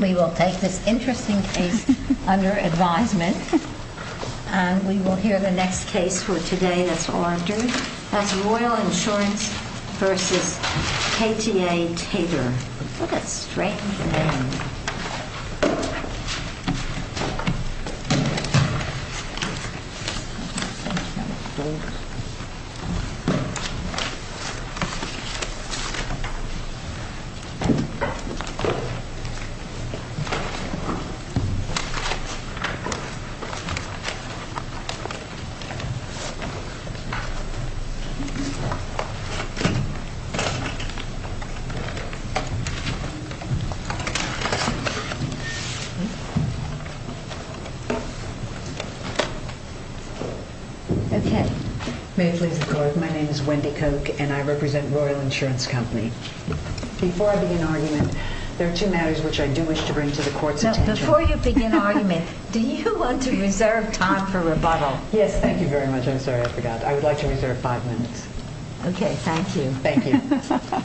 We will take this interesting case under advisement, and we will hear the next case for today that's ordered, that's Royal Insurance v. KTA Tabor. What a strange name. May it please the Court, my name is Wendy Koch, and I represent Royal Insurance Company. Before I begin argument, there are two matters which I do wish to bring to the Court's attention. Before you begin argument, do you want to reserve time for rebuttal? Yes, thank you very much. I'm sorry, I forgot. I would like to reserve five minutes. Okay, thank you. Thank you.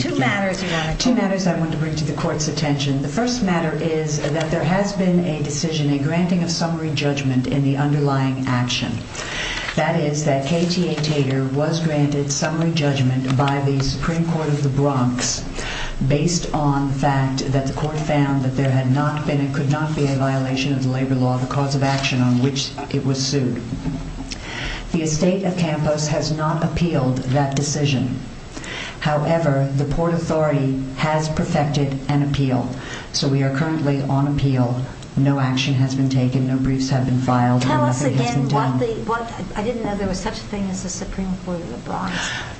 Two matters I want to bring to the Court's attention. The first matter is that there has been a decision, a granting of summary judgment in the underlying action. That is that KTA Tabor was granted summary judgment by the Supreme Court of the Bronx based on the fact that the Court found that there could not be a violation of the labor law, the cause of action on which it was sued. The estate of Campos has not appealed that decision. However, the Port Authority has perfected an appeal, so we are currently on appeal. No action has been taken, no briefs have been filed. Tell us again what the – I didn't know there was such a thing as the Supreme Court of the Bronx.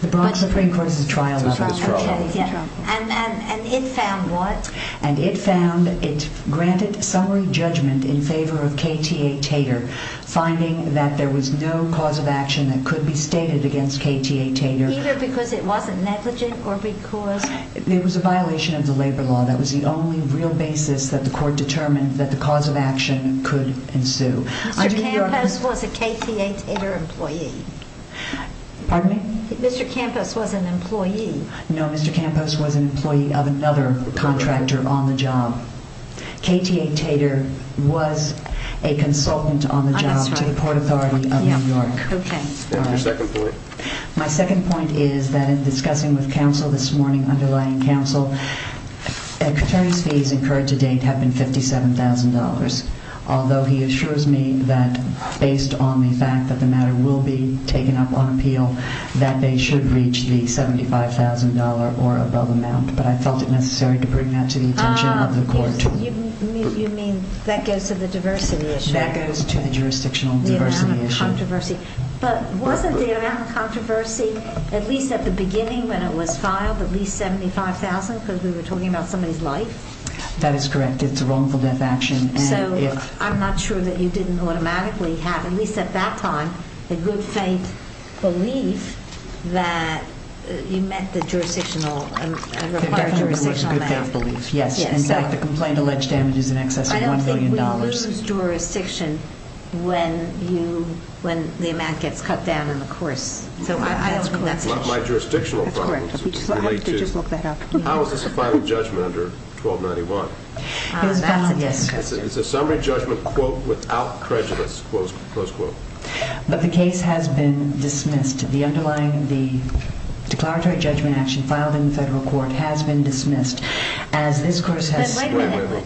The Bronx Supreme Court is a trial level. And it found what? And it found it granted summary judgment in favor of KTA Tabor, finding that there was no cause of action that could be stated against KTA Tabor. Either because it wasn't negligent or because – It was a violation of the labor law. That was the only real basis that the Court determined that the cause of action could ensue. Mr. Campos was a KTA Tabor employee. Pardon me? Mr. Campos was an employee. No, Mr. Campos was an employee of another contractor on the job. KTA Tabor was a consultant on the job to the Port Authority of New York. Your second point? My second point is that in discussing with counsel this morning, underlying counsel, attorneys' fees incurred to date have been $57,000. Although he assures me that based on the fact that the matter will be taken up on appeal, that they should reach the $75,000 or above amount. But I felt it necessary to bring that to the attention of the Court. You mean that goes to the diversity issue? That goes to the jurisdictional diversity issue. But wasn't the amount of controversy, at least at the beginning when it was filed, at least $75,000? Because we were talking about somebody's life? That is correct. It's a wrongful death action. So I'm not sure that you didn't automatically have, at least at that time, a good-faith belief that you met the required jurisdictional amount. It definitely was a good-faith belief, yes. In fact, the complaint alleged damages in excess of $1 billion. We lose jurisdiction when the amount gets cut down on the course. So I don't think that's an issue. That's not my jurisdictional problem. That's correct. How is this a final judgment under 1291? It's a summary judgment, quote, without prejudice, close quote. But the case has been dismissed. The underlying, the declaratory judgment action filed in the federal court has been dismissed as this course has— Wait a minute.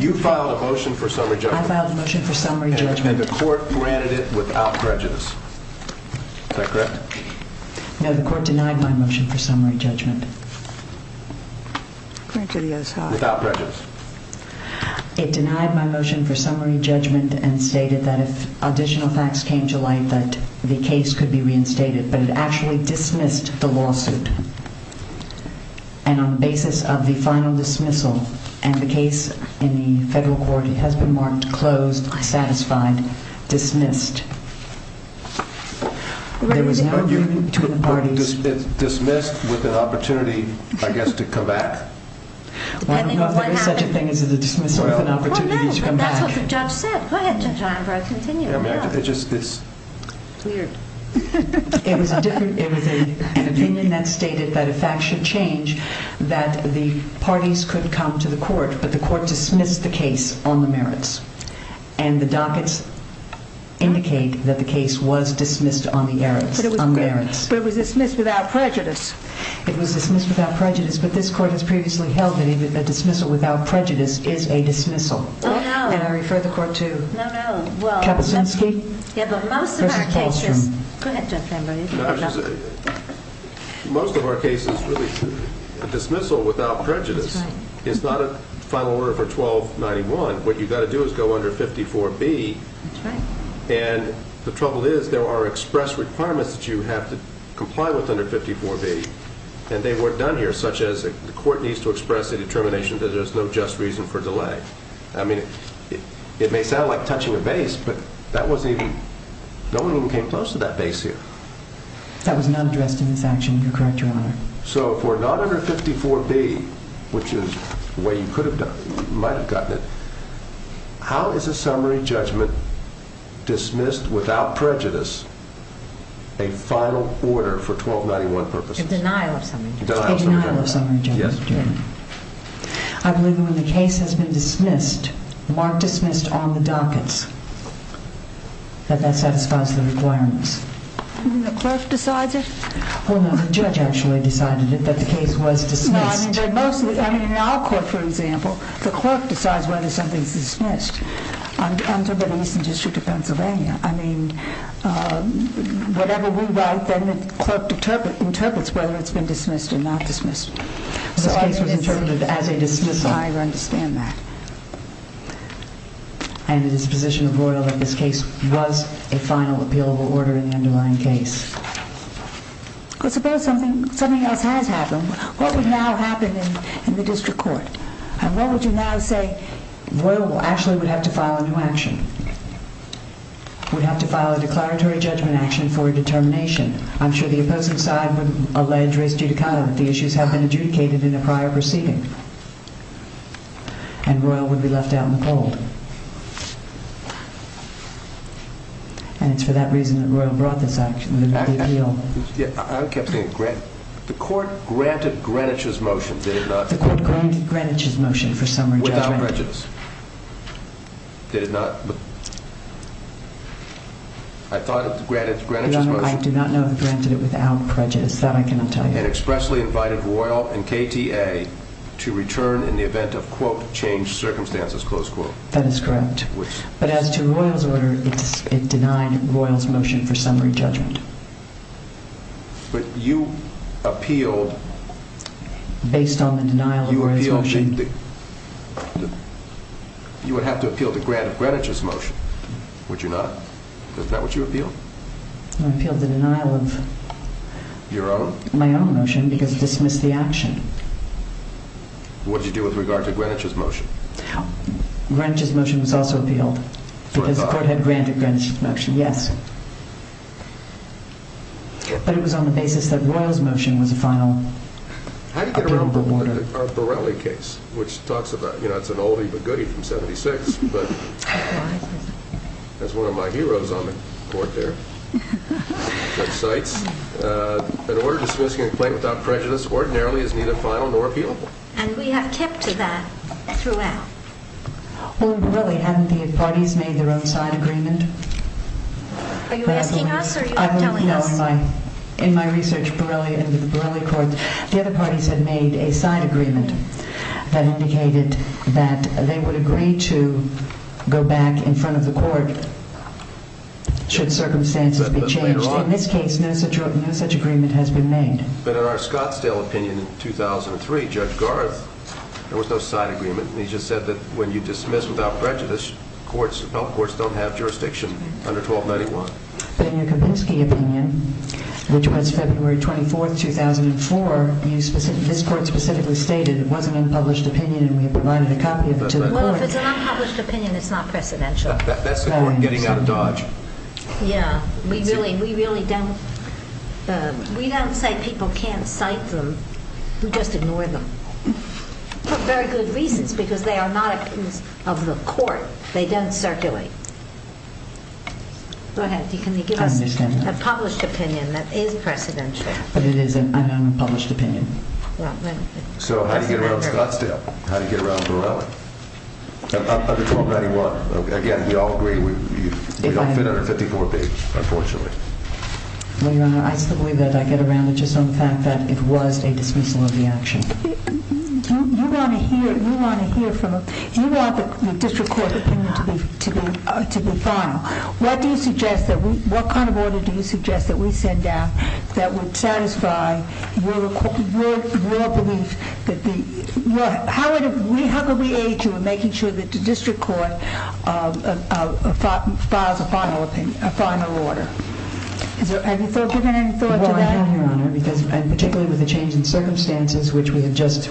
You filed a motion for summary judgment. I filed a motion for summary judgment. And the court granted it without prejudice. Is that correct? No, the court denied my motion for summary judgment. Without prejudice. It denied my motion for summary judgment and stated that if additional facts came to light, that the case could be reinstated. But it actually dismissed the lawsuit. And on the basis of the final dismissal and the case in the federal court, it has been marked closed, satisfied, dismissed. There was no agreement between the parties. Dismissed with an opportunity, I guess, to come back? Why not? There is such a thing as a dismissal with an opportunity to come back. Well, no. That's what the judge said. Go ahead, Judge Einberg. Continue. It's weird. It was an opinion that stated that if facts should change, that the parties could come to the court, but the court dismissed the case on the merits. And the dockets indicate that the case was dismissed on the merits. But it was dismissed without prejudice. It was dismissed without prejudice, but this court has previously held that a dismissal without prejudice is a dismissal. Oh, no. And I refer the court to— No, no. Kapuscinski? Yeah, but most of our cases— Go ahead, Judge Einberg. Most of our cases, really, a dismissal without prejudice is not a final order for 1291. What you've got to do is go under 54B. That's right. And the trouble is there are express requirements that you have to comply with under 54B. And they weren't done here, such as the court needs to express a determination that there's no just reason for delay. I mean, it may sound like touching a vase, but that wasn't even—no one even came close to that vase here. That was not addressed in this action. You're correct, Your Honor. So if we're not under 54B, which is the way you might have gotten it, how is a summary judgment dismissed without prejudice a final order for 1291 purposes? A denial of summary judgment. A denial of summary judgment. Yes. I believe that when the case has been dismissed, marked dismissed on the dockets, that that satisfies the requirements. The clerk decides it? Well, no, the judge actually decided it, that the case was dismissed. No, I mean, in our court, for example, the clerk decides whether something's dismissed. I'm talking about the Eastern District of Pennsylvania. I mean, whatever we write, then the clerk interprets whether it's been dismissed or not dismissed. This case was interpreted as a dismissal. I understand that. And it is the position of Royal that this case was a final appealable order in the underlying case. Well, suppose something else has happened. What would now happen in the district court? And what would you now say— Royal actually would have to file a new action, would have to file a declaratory judgment action for a determination. I'm sure the opposing side would allege res judicata, that the issues have been adjudicated in a prior proceeding. And Royal would be left out in the cold. And it's for that reason that Royal brought this action, the appeal. I kept thinking—the court granted Greenwich's motion, did it not? The court granted Greenwich's motion for summary judgment. Without prejudice. I thought it was granted Greenwich's motion. Your Honor, I do not know if they granted it without prejudice. That I cannot tell you. And expressly invited Royal and KTA to return in the event of, quote, changed circumstances, close quote. That is correct. But as to Royal's order, it denied Royal's motion for summary judgment. But you appealed— Based on the denial of Royal's motion. You would have to appeal the grant of Greenwich's motion, would you not? Is that what you appealed? I appealed the denial of— Your own? My own motion, because it dismissed the action. What did you do with regard to Greenwich's motion? Greenwich's motion was also appealed. Because the court had granted Greenwich's motion, yes. But it was on the basis that Royal's motion was a final— How do you get around the Borrelli case, which talks about, you know, it's an oldie but goodie from 76. That's one of my heroes on the court there. Websites. An order dismissing a complaint without prejudice ordinarily is neither final nor appealable. And we have kept to that throughout. Well, in Borrelli, hadn't the parties made their own side agreement? Are you asking us or are you telling us? In my research in the Borrelli court, the other parties had made a side agreement that indicated that they would agree to go back in front of the court should circumstances be changed. In this case, no such agreement has been made. But in our Scottsdale opinion in 2003, Judge Garth, there was no side agreement. He just said that when you dismiss without prejudice, health courts don't have jurisdiction under 1291. But in your Kempinski opinion, which was February 24, 2004, this court specifically stated it was an unpublished opinion and we provided a copy of it to the court. Well, if it's an unpublished opinion, it's not precedential. That's the court getting out of Dodge. Yeah. We really don't say people can't cite them. We just ignore them. For very good reasons, because they are not opinions of the court. They don't circulate. Go ahead. Can you give us a published opinion that is precedential? But it is an unpublished opinion. So how do you get around Scottsdale? How do you get around Borrelli? Under 1291, again, we all agree we don't fit under 54 page, unfortunately. Well, Your Honor, I still believe that I get around it just on the fact that it was a dismissal of the action. You want the district court opinion to be final. What kind of order do you suggest that we send down that would satisfy your belief? How could we aid you in making sure that the district court files a final order? Have you given any thought to that? Particularly with the change in circumstances, which we have just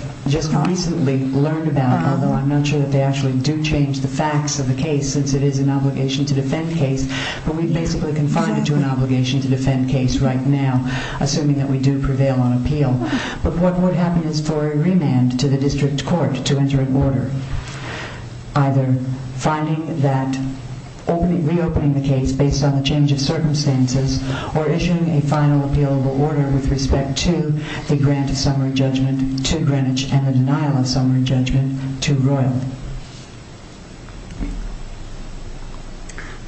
recently learned about, although I'm not sure that they actually do change the facts of the case, since it is an obligation to defend case, but we basically confine it to an obligation to defend case right now, assuming that we do prevail on appeal. But what would happen is for a remand to the district court to enter an order, either finding that reopening the case based on the change of circumstances or issuing a final appealable order with respect to the grant of summary judgment to Greenwich and the denial of summary judgment to Royalty.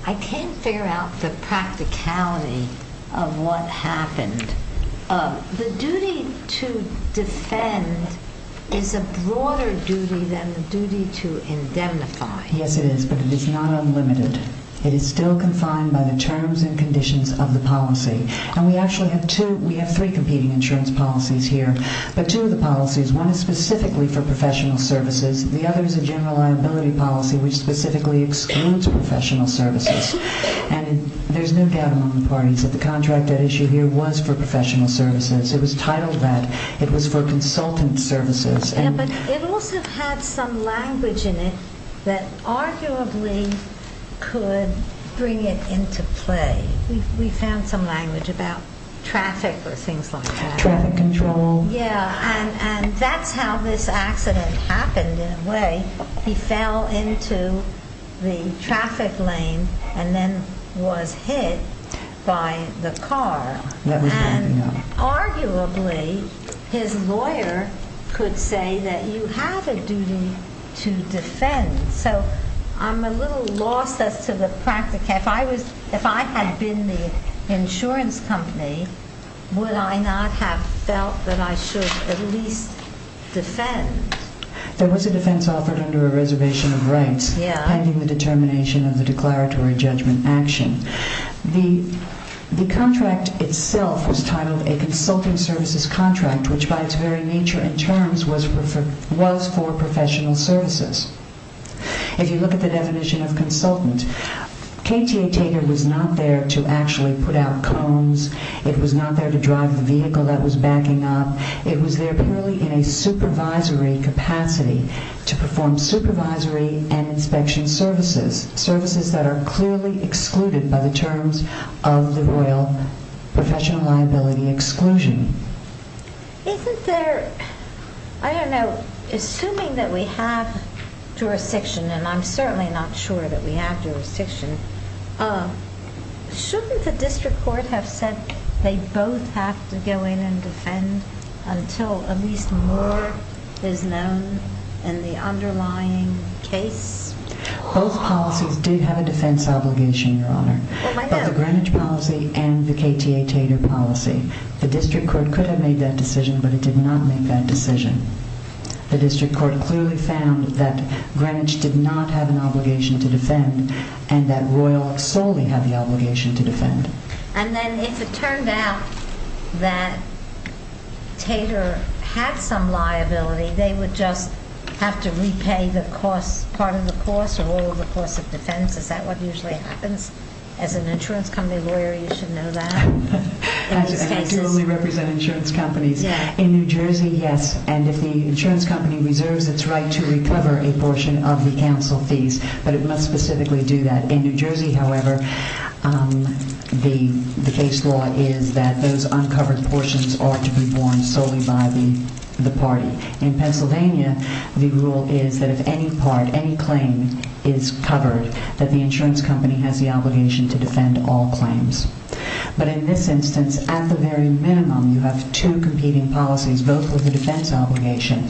I can't figure out the practicality of what happened. The duty to defend is a broader duty than the duty to indemnify. Yes, it is, but it is not unlimited. It is still confined by the terms and conditions of the policy. And we actually have three competing insurance policies here. But two of the policies, one is specifically for professional services. The other is a general liability policy, which specifically excludes professional services. And there's no doubt among the parties that the contract at issue here was for professional services. It was titled that. It was for consultant services. But it also had some language in it that arguably could bring it into play. We found some language about traffic or things like that. Traffic control. Yeah, and that's how this accident happened in a way. He fell into the traffic lane and then was hit by the car. Arguably, his lawyer could say that you have a duty to defend. So I'm a little lost as to the practicality. If I had been the insurance company, would I not have felt that I should at least defend? There was a defense offered under a reservation of rights pending the determination of the declaratory judgment action. The contract itself was titled a consultant services contract, which by its very nature in terms was for professional services. If you look at the definition of consultant, KTA Taker was not there to actually put out cones. It was not there to drive the vehicle that was backing up. It was there purely in a supervisory capacity to perform supervisory and inspection services, services that are clearly excluded by the terms of the Royal Professional Liability Exclusion. Isn't there, I don't know, assuming that we have jurisdiction, and I'm certainly not sure that we have jurisdiction, shouldn't the district court have said they both have to go in and defend until at least more is known in the underlying case? Both policies did have a defense obligation, Your Honor. Both the Greenwich policy and the KTA Tater policy. The district court could have made that decision, but it did not make that decision. The district court clearly found that Greenwich did not have an obligation to defend and that Royal solely had the obligation to defend. And then if it turned out that Tater had some liability, they would just have to repay the cost, part of the cost or all of the cost of defense. Is that what usually happens? As an insurance company lawyer, you should know that. I do only represent insurance companies. In New Jersey, yes. And if the insurance company reserves its right to recover a portion of the counsel fees, but it must specifically do that. In New Jersey, however, the case law is that those uncovered portions are to be borne solely by the party. In Pennsylvania, the rule is that if any part, any claim is covered, that the insurance company has the obligation to defend all claims. But in this instance, at the very minimum, you have two competing policies, both with a defense obligation.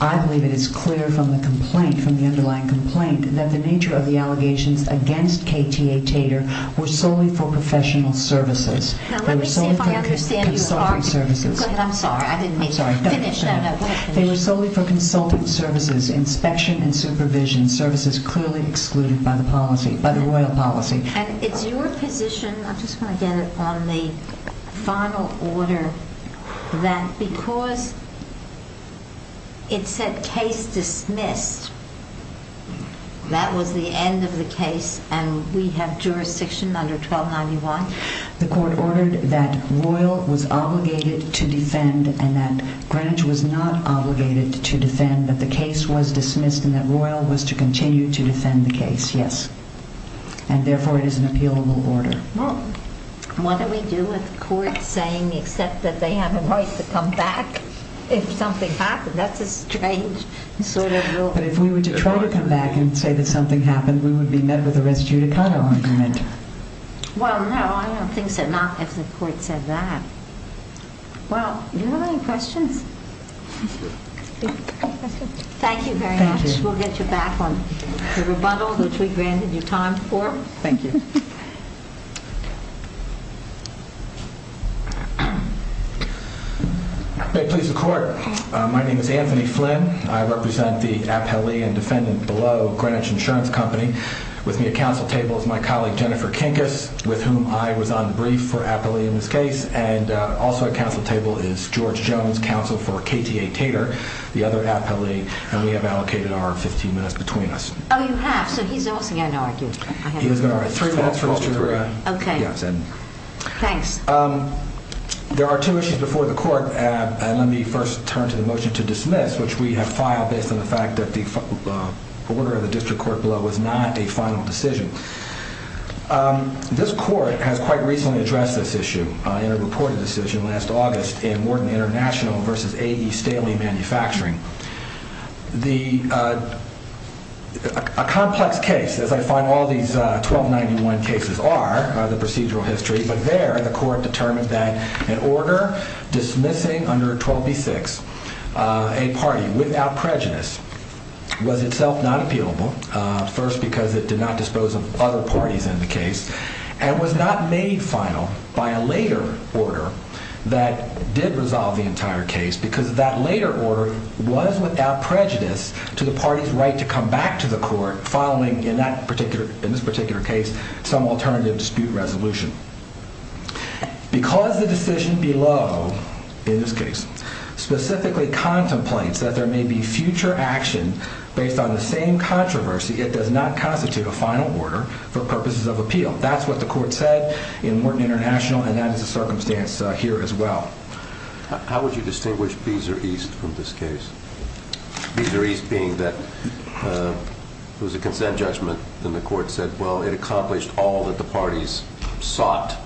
I believe it is clear from the complaint, from the underlying complaint, that the nature of the allegations against KTA Tater were solely for professional services. Now, let me see if I understand you. I'm sorry. I didn't mean to. Finish that up. They were solely for consultant services, inspection and supervision, services clearly excluded by the policy, by the royal policy. And it's your position, I just want to get it on the final order, that because it said case dismissed, that was the end of the case and we have jurisdiction under 1291? The court ordered that Royal was obligated to defend and that Greenwich was not obligated to defend, but the case was dismissed and that Royal was to continue to defend the case, yes. And therefore, it is an appealable order. Well, what do we do with courts saying except that they have a right to come back if something happened? That's a strange sort of rule. But if we were to try to come back and say that something happened, we would be met with a res judicato argument. Well, no, I don't think so. Not if the court said that. Well, do you have any questions? Thank you very much. We'll get you back on the rebuttal which we granted you time for. Thank you. May it please the court, my name is Anthony Flynn. I represent the appellee and defendant below Greenwich Insurance Company. With me at council table is my colleague Jennifer Kinkas, with whom I was on brief for appellee in this case. And also at council table is George Jones, counsel for KTA Tater, the other appellee. And we have allocated our 15 minutes between us. Oh, you have? So he's also going to argue. He's going to argue. Three minutes for Mr. Greenwich. Okay. Thanks. There are two issues before the court and let me first turn to the motion to dismiss, which we have filed based on the fact that the order of the district court below was not a final decision. This court has quite recently addressed this issue in a reported decision last August in Wharton International versus A.E. Staley Manufacturing. A complex case, as I find all these 1291 cases are, the procedural history. But there, the court determined that an order dismissing under 12B-6 a party without prejudice was itself not appealable. First, because it did not dispose of other parties in the case and was not made final by a later order that did resolve the entire case. Because that later order was without prejudice to the party's right to come back to the court following, in this particular case, some alternative dispute resolution. Because the decision below, in this case, specifically contemplates that there may be future action based on the same controversy, it does not constitute a final order for purposes of appeal. That's what the court said in Wharton International and that is the circumstance here as well. How would you distinguish Beezer East from this case? Beezer East being that it was a consent judgment and the court said, well, it accomplished all that the parties sought.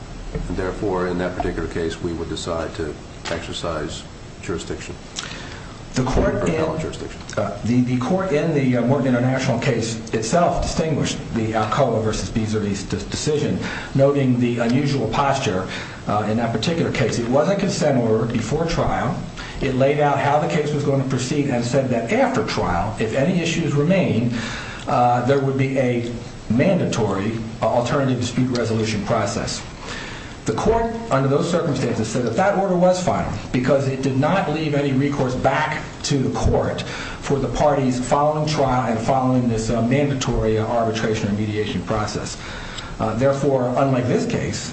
Therefore, in that particular case, we would decide to exercise jurisdiction. The court in the Wharton International case itself distinguished the Alcoa versus Beezer East decision, noting the unusual posture in that particular case. It was a consent order before trial. It laid out how the case was going to proceed and said that after trial, if any issues remain, there would be a mandatory alternative dispute resolution process. The court, under those circumstances, said that that order was final because it did not leave any recourse back to the court for the parties following trial and following this mandatory arbitration and mediation process. Therefore, unlike this case,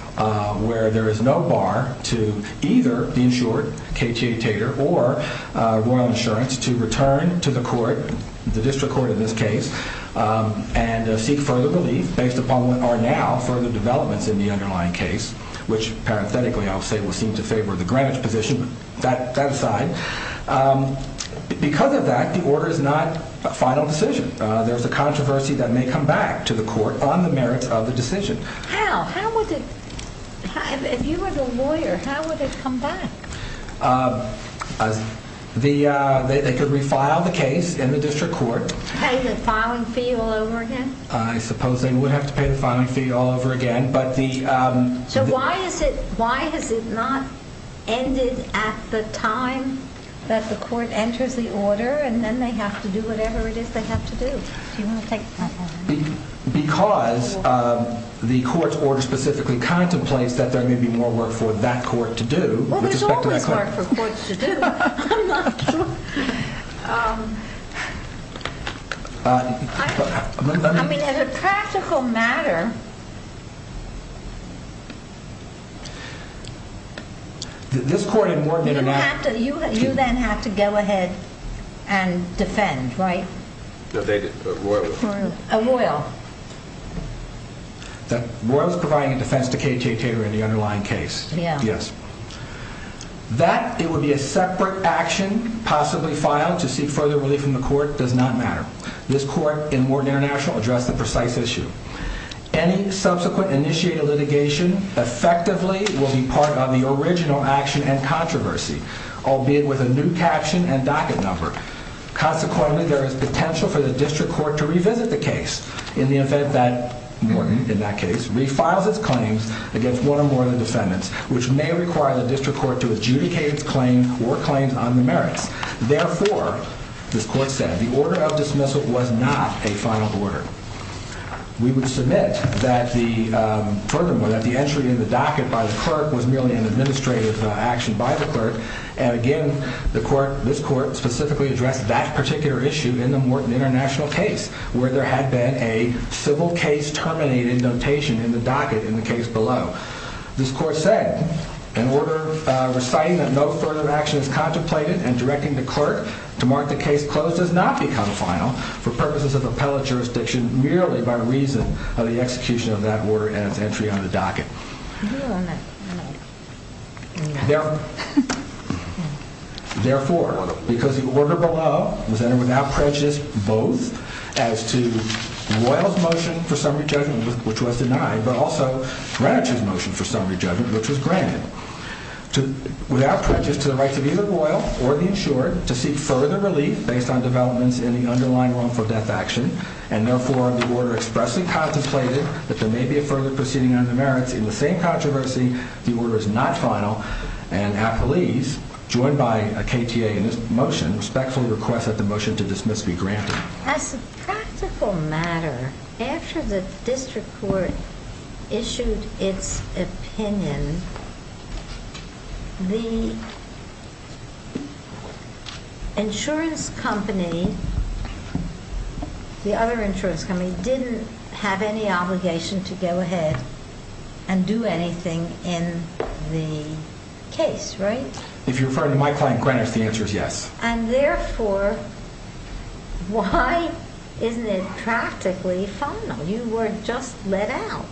where there is no bar to either the insured, K.T. Tater, or Royal Insurance to return to the court, the district court in this case, and seek further relief based upon what are now further developments in the underlying case, which, parenthetically, I'll say will seem to favor the Greenwich position, but that aside, because of that, the order is not a final decision. There is a controversy that may come back to the court on the merits of the decision. How? How would it, if you were the lawyer, how would it come back? They could refile the case in the district court. Pay the filing fee all over again? I suppose they would have to pay the filing fee all over again. So why has it not ended at the time that the court enters the order and then they have to do whatever it is they have to do? Do you want to take that one? Because the court's order specifically contemplates that there may be more work for that court to do with respect to that court. Well, there's always work for courts to do. I'm not sure. I mean, as a practical matter, you then have to go ahead and defend, right? Royal. Royal is providing a defense to K.T. Taylor in the underlying case. Yes. That it would be a separate action possibly filed to seek further relief from the court does not matter. This court in Wharton International addressed the precise issue. Any subsequent initiated litigation effectively will be part of the original action and controversy, albeit with a new caption and docket number. Consequently, there is potential for the district court to revisit the case in the event that in that case refiles its claims against one or more of the defendants, which may require the district court to adjudicate its claim or claims on the merits. Therefore, this court said the order of dismissal was not a final order. We would submit that the entry in the docket by the clerk was merely an administrative action by the clerk. And again, this court specifically addressed that particular issue in the Wharton International case where there had been a civil case terminated notation in the docket in the case below. This court said in order of reciting that no further action is contemplated and directing the clerk to mark the case closed does not become a final for purposes of appellate jurisdiction, merely by reason of the execution of that order and its entry on the docket. Therefore, because the order below was entered without prejudice both as to Royal's motion for summary judgment, which was denied, but also Greenwich's motion for summary judgment, which was granted, without prejudice to the rights of either Royal or the insured, to seek further relief based on developments in the underlying wrongful death action. And therefore, the order expressly contemplated that there may be a further proceeding on the merits. In the same controversy, the order is not final. And appellees, joined by a KTA in this motion, respectfully request that the motion to dismiss be granted. As a practical matter, after the district court issued its opinion, the insurance company, the other insurance company, didn't have any obligation to go ahead and do anything in the case, right? If you're referring to my client Greenwich, the answer is yes. And therefore, why isn't it practically final? You were just let out.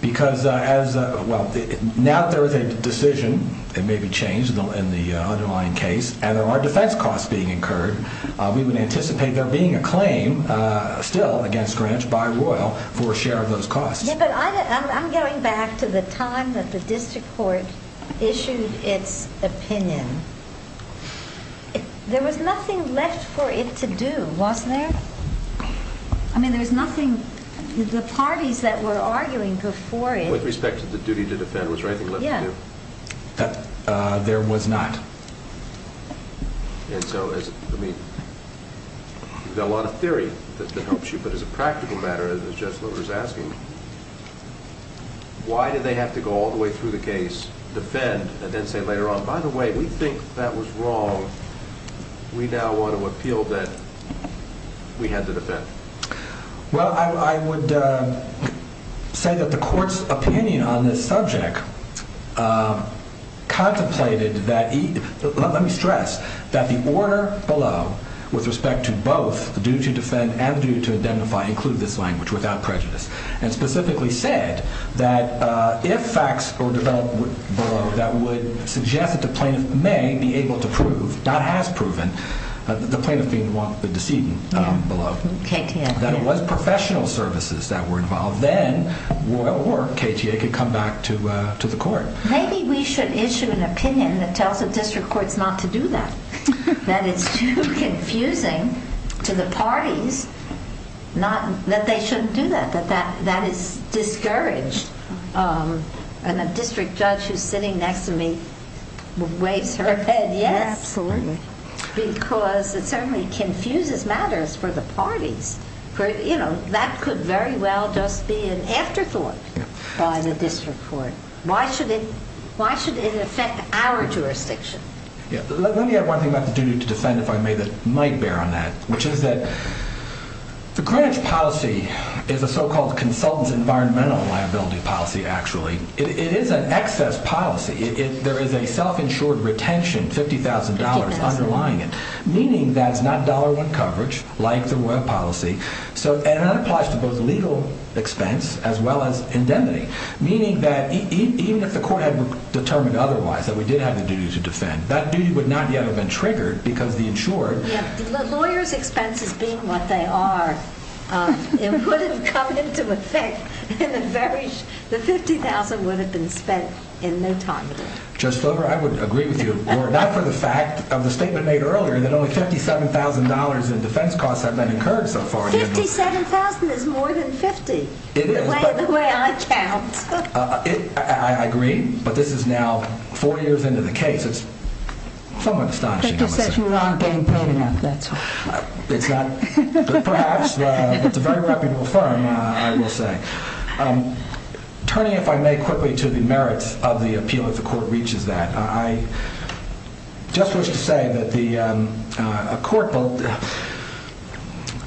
Because as, well, now there is a decision that may be changed in the underlying case, and there are defense costs being incurred. We would anticipate there being a claim still against Greenwich by Royal for a share of those costs. Yeah, but I'm going back to the time that the district court issued its opinion. There was nothing left for it to do, wasn't there? I mean, there was nothing, the parties that were arguing before it. With respect to the duty to defend, was there anything left to do? Yeah. There was not. And so, I mean, there's a lot of theory that helps you, but as a practical matter, as Jeff Lover is asking, why did they have to go all the way through the case, defend, and then say later on, by the way, we think that was wrong. We now want to appeal that we had to defend. Well, I would say that the court's opinion on this subject contemplated that, let me stress, that the order below, with respect to both the duty to defend and the duty to identify, include this language without prejudice, and specifically said that if facts were developed below that would suggest that the plaintiff may be able to prove, not has proven, the plaintiff being the decedent below, that it was professional services that were involved, then Royal or KTA could come back to the court. Maybe we should issue an opinion that tells the district courts not to do that, that it's too confusing to the parties that they shouldn't do that, that that is discouraged. And the district judge who's sitting next to me waves her head yes. Absolutely. Because it certainly confuses matters for the parties. That could very well just be an afterthought by the district court. Why should it affect our jurisdiction? Let me add one thing about the duty to defend, if I may, that might bear on that, which is that the Greenwich policy is a so-called consultant's environmental liability policy, actually. It is an excess policy. There is a self-insured retention, $50,000 underlying it, meaning that it's not dollar-one coverage like the Royal policy, and that applies to both legal expense as well as indemnity, meaning that even if the court had determined otherwise that we did have the duty to defend, that duty would not yet have been triggered because the insured. Lawyers' expenses being what they are, it would have come into effect and the $50,000 would have been spent in no time at all. Judge Fuller, I would agree with you, not for the fact of the statement made earlier that only $57,000 in defense costs have been incurred so far. $57,000 is more than $50,000, the way I count. I agree, but this is now four years into the case. It's somewhat astonishing. But you said you aren't getting paid enough, that's all. Perhaps, but it's a very reputable firm, I will say. Turning, if I may, quickly to the merits of the appeal if the court reaches that, I just wish to say that the court,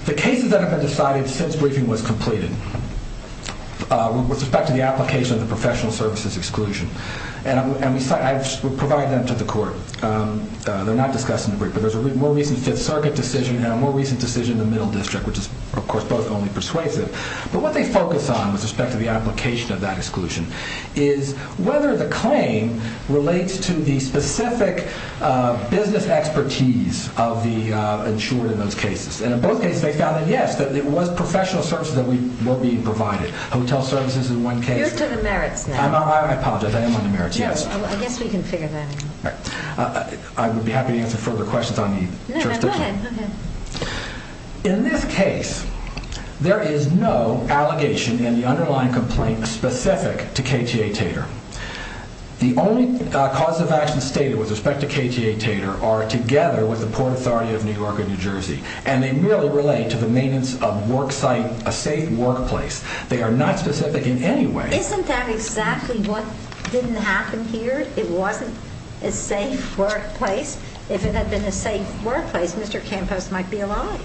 the cases that have been decided since briefing was completed with respect to the application of the professional services exclusion. And we provide them to the court. They're not discussed in the brief, but there's a more recent Fifth Circuit decision and a more recent decision in the Middle District, which is, of course, both only persuasive. But what they focus on with respect to the application of that exclusion is whether the claim relates to the specific business expertise of the insured in those cases. And in both cases they found that, yes, it was professional services that were being provided. Hotel services in one case. You're to the merits now. I apologize, I am on the merits, yes. I guess we can figure that out. I would be happy to answer further questions on the jurisdiction. No, no, go ahead. In this case, there is no allegation in the underlying complaint specific to KTA Tater. The only cause of action stated with respect to KTA Tater are together with the Port Authority of New York and New Jersey. And they merely relate to the maintenance of a safe workplace. They are not specific in any way. Isn't that exactly what didn't happen here? It wasn't a safe workplace. If it had been a safe workplace, Mr. Campos might be alive.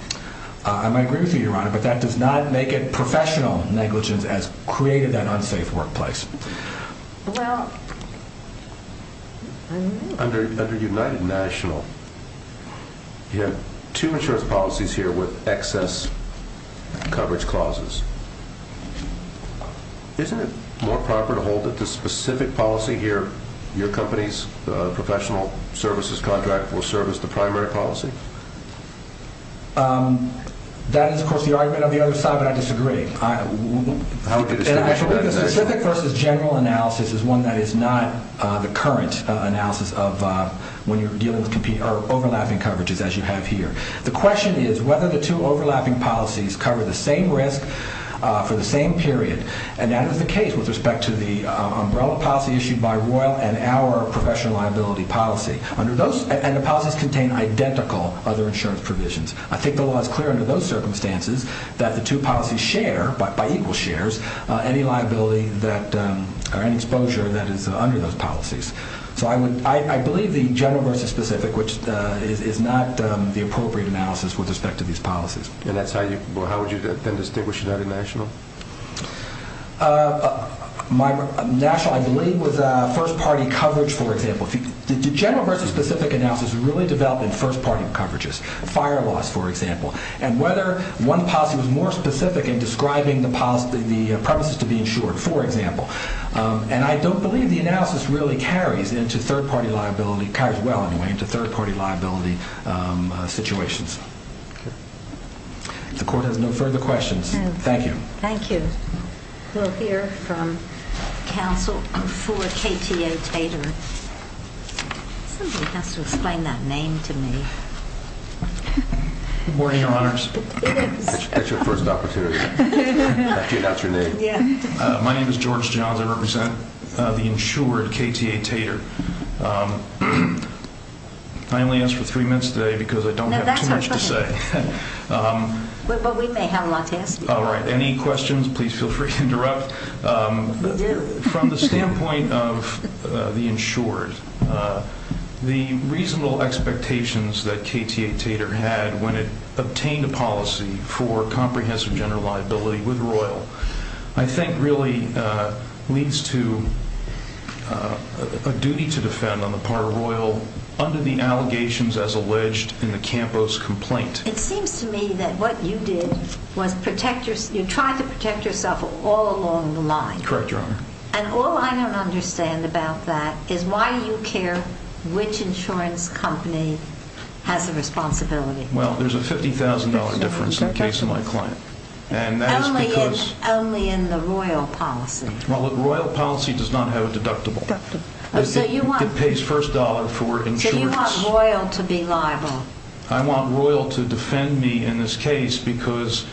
I might agree with you, Your Honor, but that does not make it professional negligence as created that unsafe workplace. Well, I don't know. Under United National, you have two insurance policies here with excess coverage clauses. Isn't it more proper to hold it to specific policy here, your company's professional services contract will serve as the primary policy? That is, of course, the argument of the other side, but I disagree. I believe the specific versus general analysis is one that is not the current analysis of when you're dealing with overlapping coverages as you have here. The question is whether the two overlapping policies cover the same risk for the same period, and that is the case with respect to the umbrella policy issued by Royal and our professional liability policy. And the policies contain identical other insurance provisions. I think the law is clear under those circumstances that the two policies share, by equal shares, any liability or any exposure that is under those policies. So I believe the general versus specific, which is not the appropriate analysis with respect to these policies. And how would you then distinguish United National? National, I believe, was first-party coverage, for example. The general versus specific analysis really developed in first-party coverages, fire laws, for example, and whether one policy was more specific in describing the premises to be insured, for example. And I don't believe the analysis really carries into third-party liability, situations. The court has no further questions. Thank you. Thank you. We'll hear from counsel for KTA TATER. Somebody has to explain that name to me. Good morning, Your Honors. That's your first opportunity. Okay, that's your name. Yeah. My name is George Johns. I represent the insured KTA TATER. I only asked for three minutes today because I don't have too much to say. No, that's okay. But we may have a lot to ask you. All right. Any questions, please feel free to interrupt. We do. From the standpoint of the insured, the reasonable expectations that KTA TATER had when it obtained a policy for comprehensive general liability with Royal, I think really leads to a duty to defend on the part of Royal under the allegations as alleged in the Campos complaint. It seems to me that what you did was protect yourself. You tried to protect yourself all along the line. Correct, Your Honor. And all I don't understand about that is why you care which insurance company has the responsibility. Well, there's a $50,000 difference in the case of my client. Only in the Royal policy. Well, the Royal policy does not have a deductible. It pays first dollar for insurance. So you want Royal to be liable. I want Royal to defend me in this case because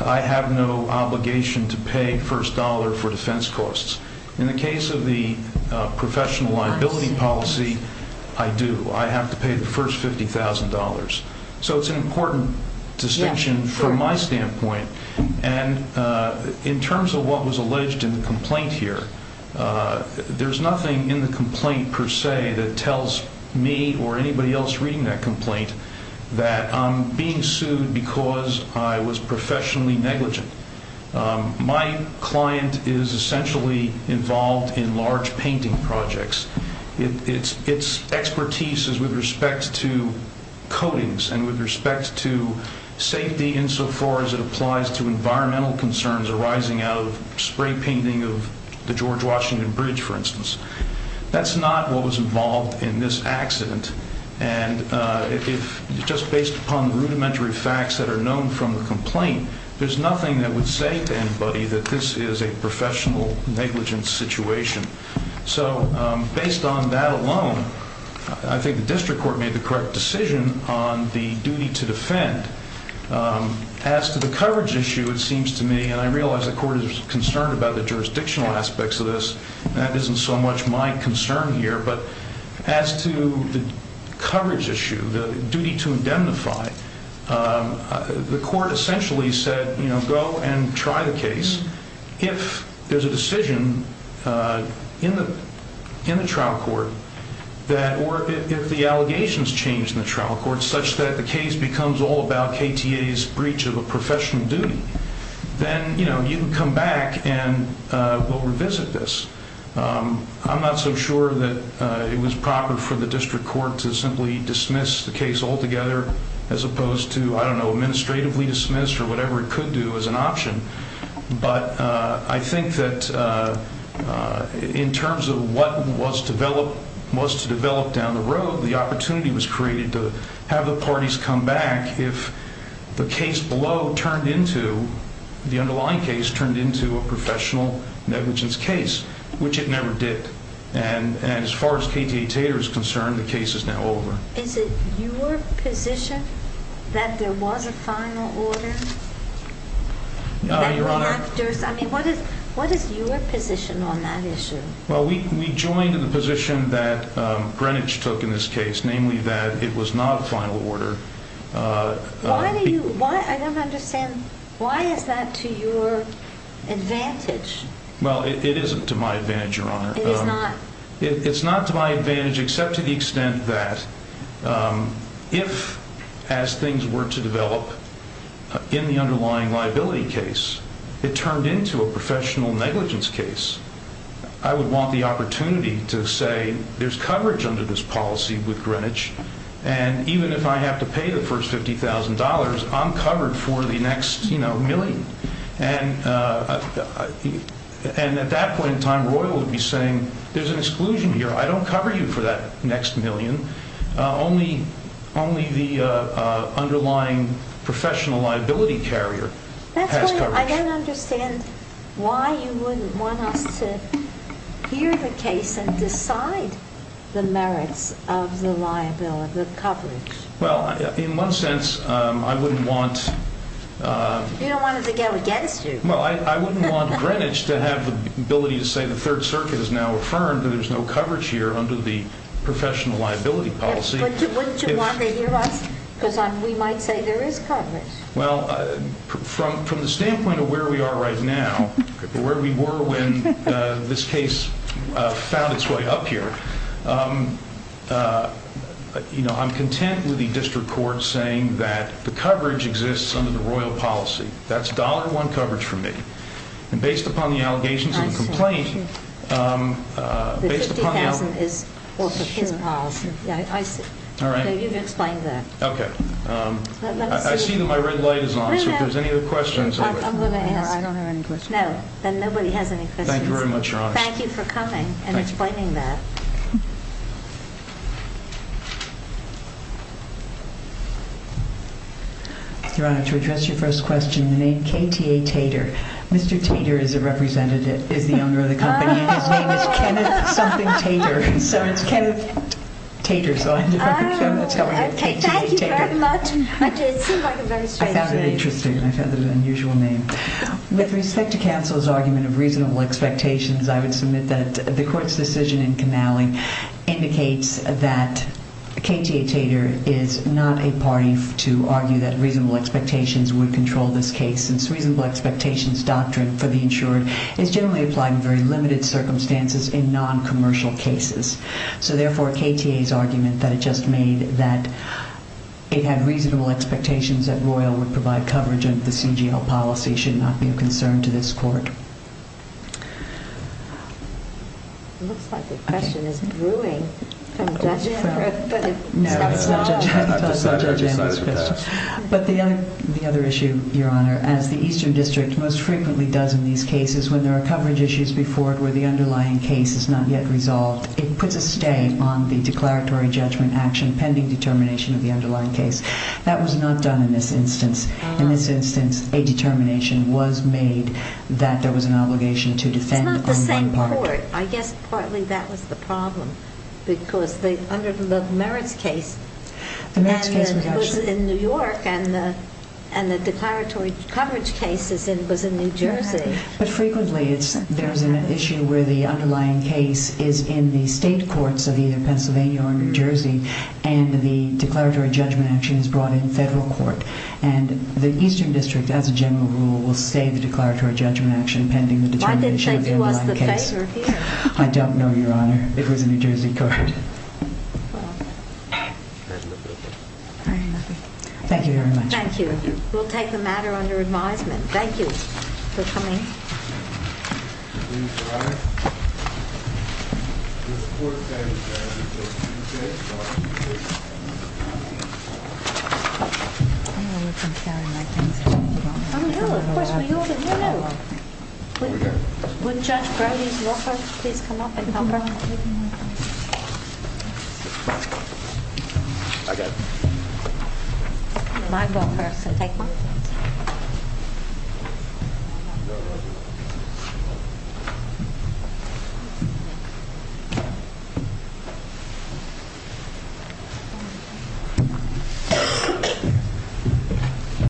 I have no obligation to pay first dollar for defense costs. In the case of the professional liability policy, I do. I have to pay the first $50,000. So it's an important distinction. And from my standpoint, and in terms of what was alleged in the complaint here, there's nothing in the complaint per se that tells me or anybody else reading that complaint that I'm being sued because I was professionally negligent. My client is essentially involved in large painting projects. Its expertise is with respect to coatings and with respect to safety insofar as it applies to environmental concerns arising out of spray painting of the George Washington Bridge, for instance. That's not what was involved in this accident. And just based upon the rudimentary facts that are known from the complaint, there's nothing that would say to anybody that this is a professional negligence situation. So based on that alone, I think the district court made the correct decision on the duty to defend. As to the coverage issue, it seems to me, and I realize the court is concerned about the jurisdictional aspects of this. That isn't so much my concern here. But as to the coverage issue, the duty to indemnify, the court essentially said, you know, go and try the case. If there's a decision in the trial court that or if the allegations change in the trial court such that the case becomes all about KTA's breach of a professional duty, then, you know, you can come back and we'll revisit this. I'm not so sure that it was proper for the district court to simply dismiss the case altogether as opposed to, I don't know, administratively dismiss or whatever it could do as an option. But I think that in terms of what was to develop down the road, the opportunity was created to have the parties come back if the case below turned into, the underlying case turned into a professional negligence case, which it never did. And as far as KTA Tater is concerned, the case is now over. Is it your position that there was a final order? Your Honor. I mean, what is your position on that issue? Well, we joined the position that Greenwich took in this case, namely that it was not a final order. Why do you, I don't understand, why is that to your advantage? Well, it isn't to my advantage, Your Honor. It is not? It's not to my advantage except to the extent that if, as things were to develop in the underlying liability case, it turned into a professional negligence case, I would want the opportunity to say there's coverage under this policy with Greenwich, and even if I have to pay the first $50,000, I'm covered for the next, you know, million. And at that point in time, Royal would be saying there's an exclusion here. I don't cover you for that next million. Only the underlying professional liability carrier has coverage. I don't understand why you wouldn't want us to hear the case and decide the merits of the liability, the coverage. Well, in one sense, I wouldn't want... You don't want us to go against you. Well, I wouldn't want Greenwich to have the ability to say the Third Circuit has now affirmed that there's no coverage here under the professional liability policy. Wouldn't you want to hear us? Because we might say there is coverage. Well, from the standpoint of where we are right now, where we were when this case found its way up here, you know, I'm content with the district court saying that the coverage exists under the Royal policy. That's $1.00 coverage for me. And based upon the allegations of the complaint... I see. The $50,000 is also his policy. I see. All right. You've explained that. Okay. I see that my red light is on, so if there's any other questions... I'm going to ask. I don't have any questions. No, then nobody has any questions. Thank you very much, Your Honor. Thank you for coming and explaining that. Thank you. Your Honor, to address your first question, the name K.T.A. Tater. Mr. Tater is the owner of the company, and his name is Kenneth something Tater. So it's Kenneth Tater. Thank you very much. It seemed like a very strange name. I found it interesting. I found it an unusual name. With respect to counsel's argument of reasonable expectations, I would submit that the court's decision in Canale indicates that K.T.A. Tater is not a party to argue that reasonable expectations would control this case, since reasonable expectations doctrine for the insured is generally applied in very limited circumstances in noncommercial cases. So therefore, K.T.A.'s argument that it just made that it had reasonable expectations that Royal would provide coverage under the CGL policy should not be a concern to this court. It looks like the question is brewing from Judge Emerick. No, it's not Judge Emerick's question. I've decided. I've decided for that. But the other issue, Your Honor, as the Eastern District most frequently does in these cases when there are coverage issues before it where the underlying case is not yet resolved, it puts a stay on the declaratory judgment action pending determination of the underlying case. That was not done in this instance. In this instance, a determination was made that there was an obligation to defend on one part. It's not the same court. I guess partly that was the problem, because under the merits case, and it was in New York, and the declaratory coverage case was in New Jersey. But frequently there's an issue where the underlying case is in the state courts of either Pennsylvania or New Jersey, and the declaratory judgment action is brought in federal court, and the Eastern District, as a general rule, will stay the declaratory judgment action pending the determination of the underlying case. Why didn't they give us the paper here? I don't know, Your Honor. It was a New Jersey court. Thank you very much. Thank you. We'll take the matter under advisement. Thank you for coming. Please rise. This court today is adjourned until Tuesday, August the 8th. I know we've been carrying my things. Oh, no, of course we all do. No, no. Over here. Would Judge Browning's law firm please come up and help her? Come on. I got it. I'll go first and take my things.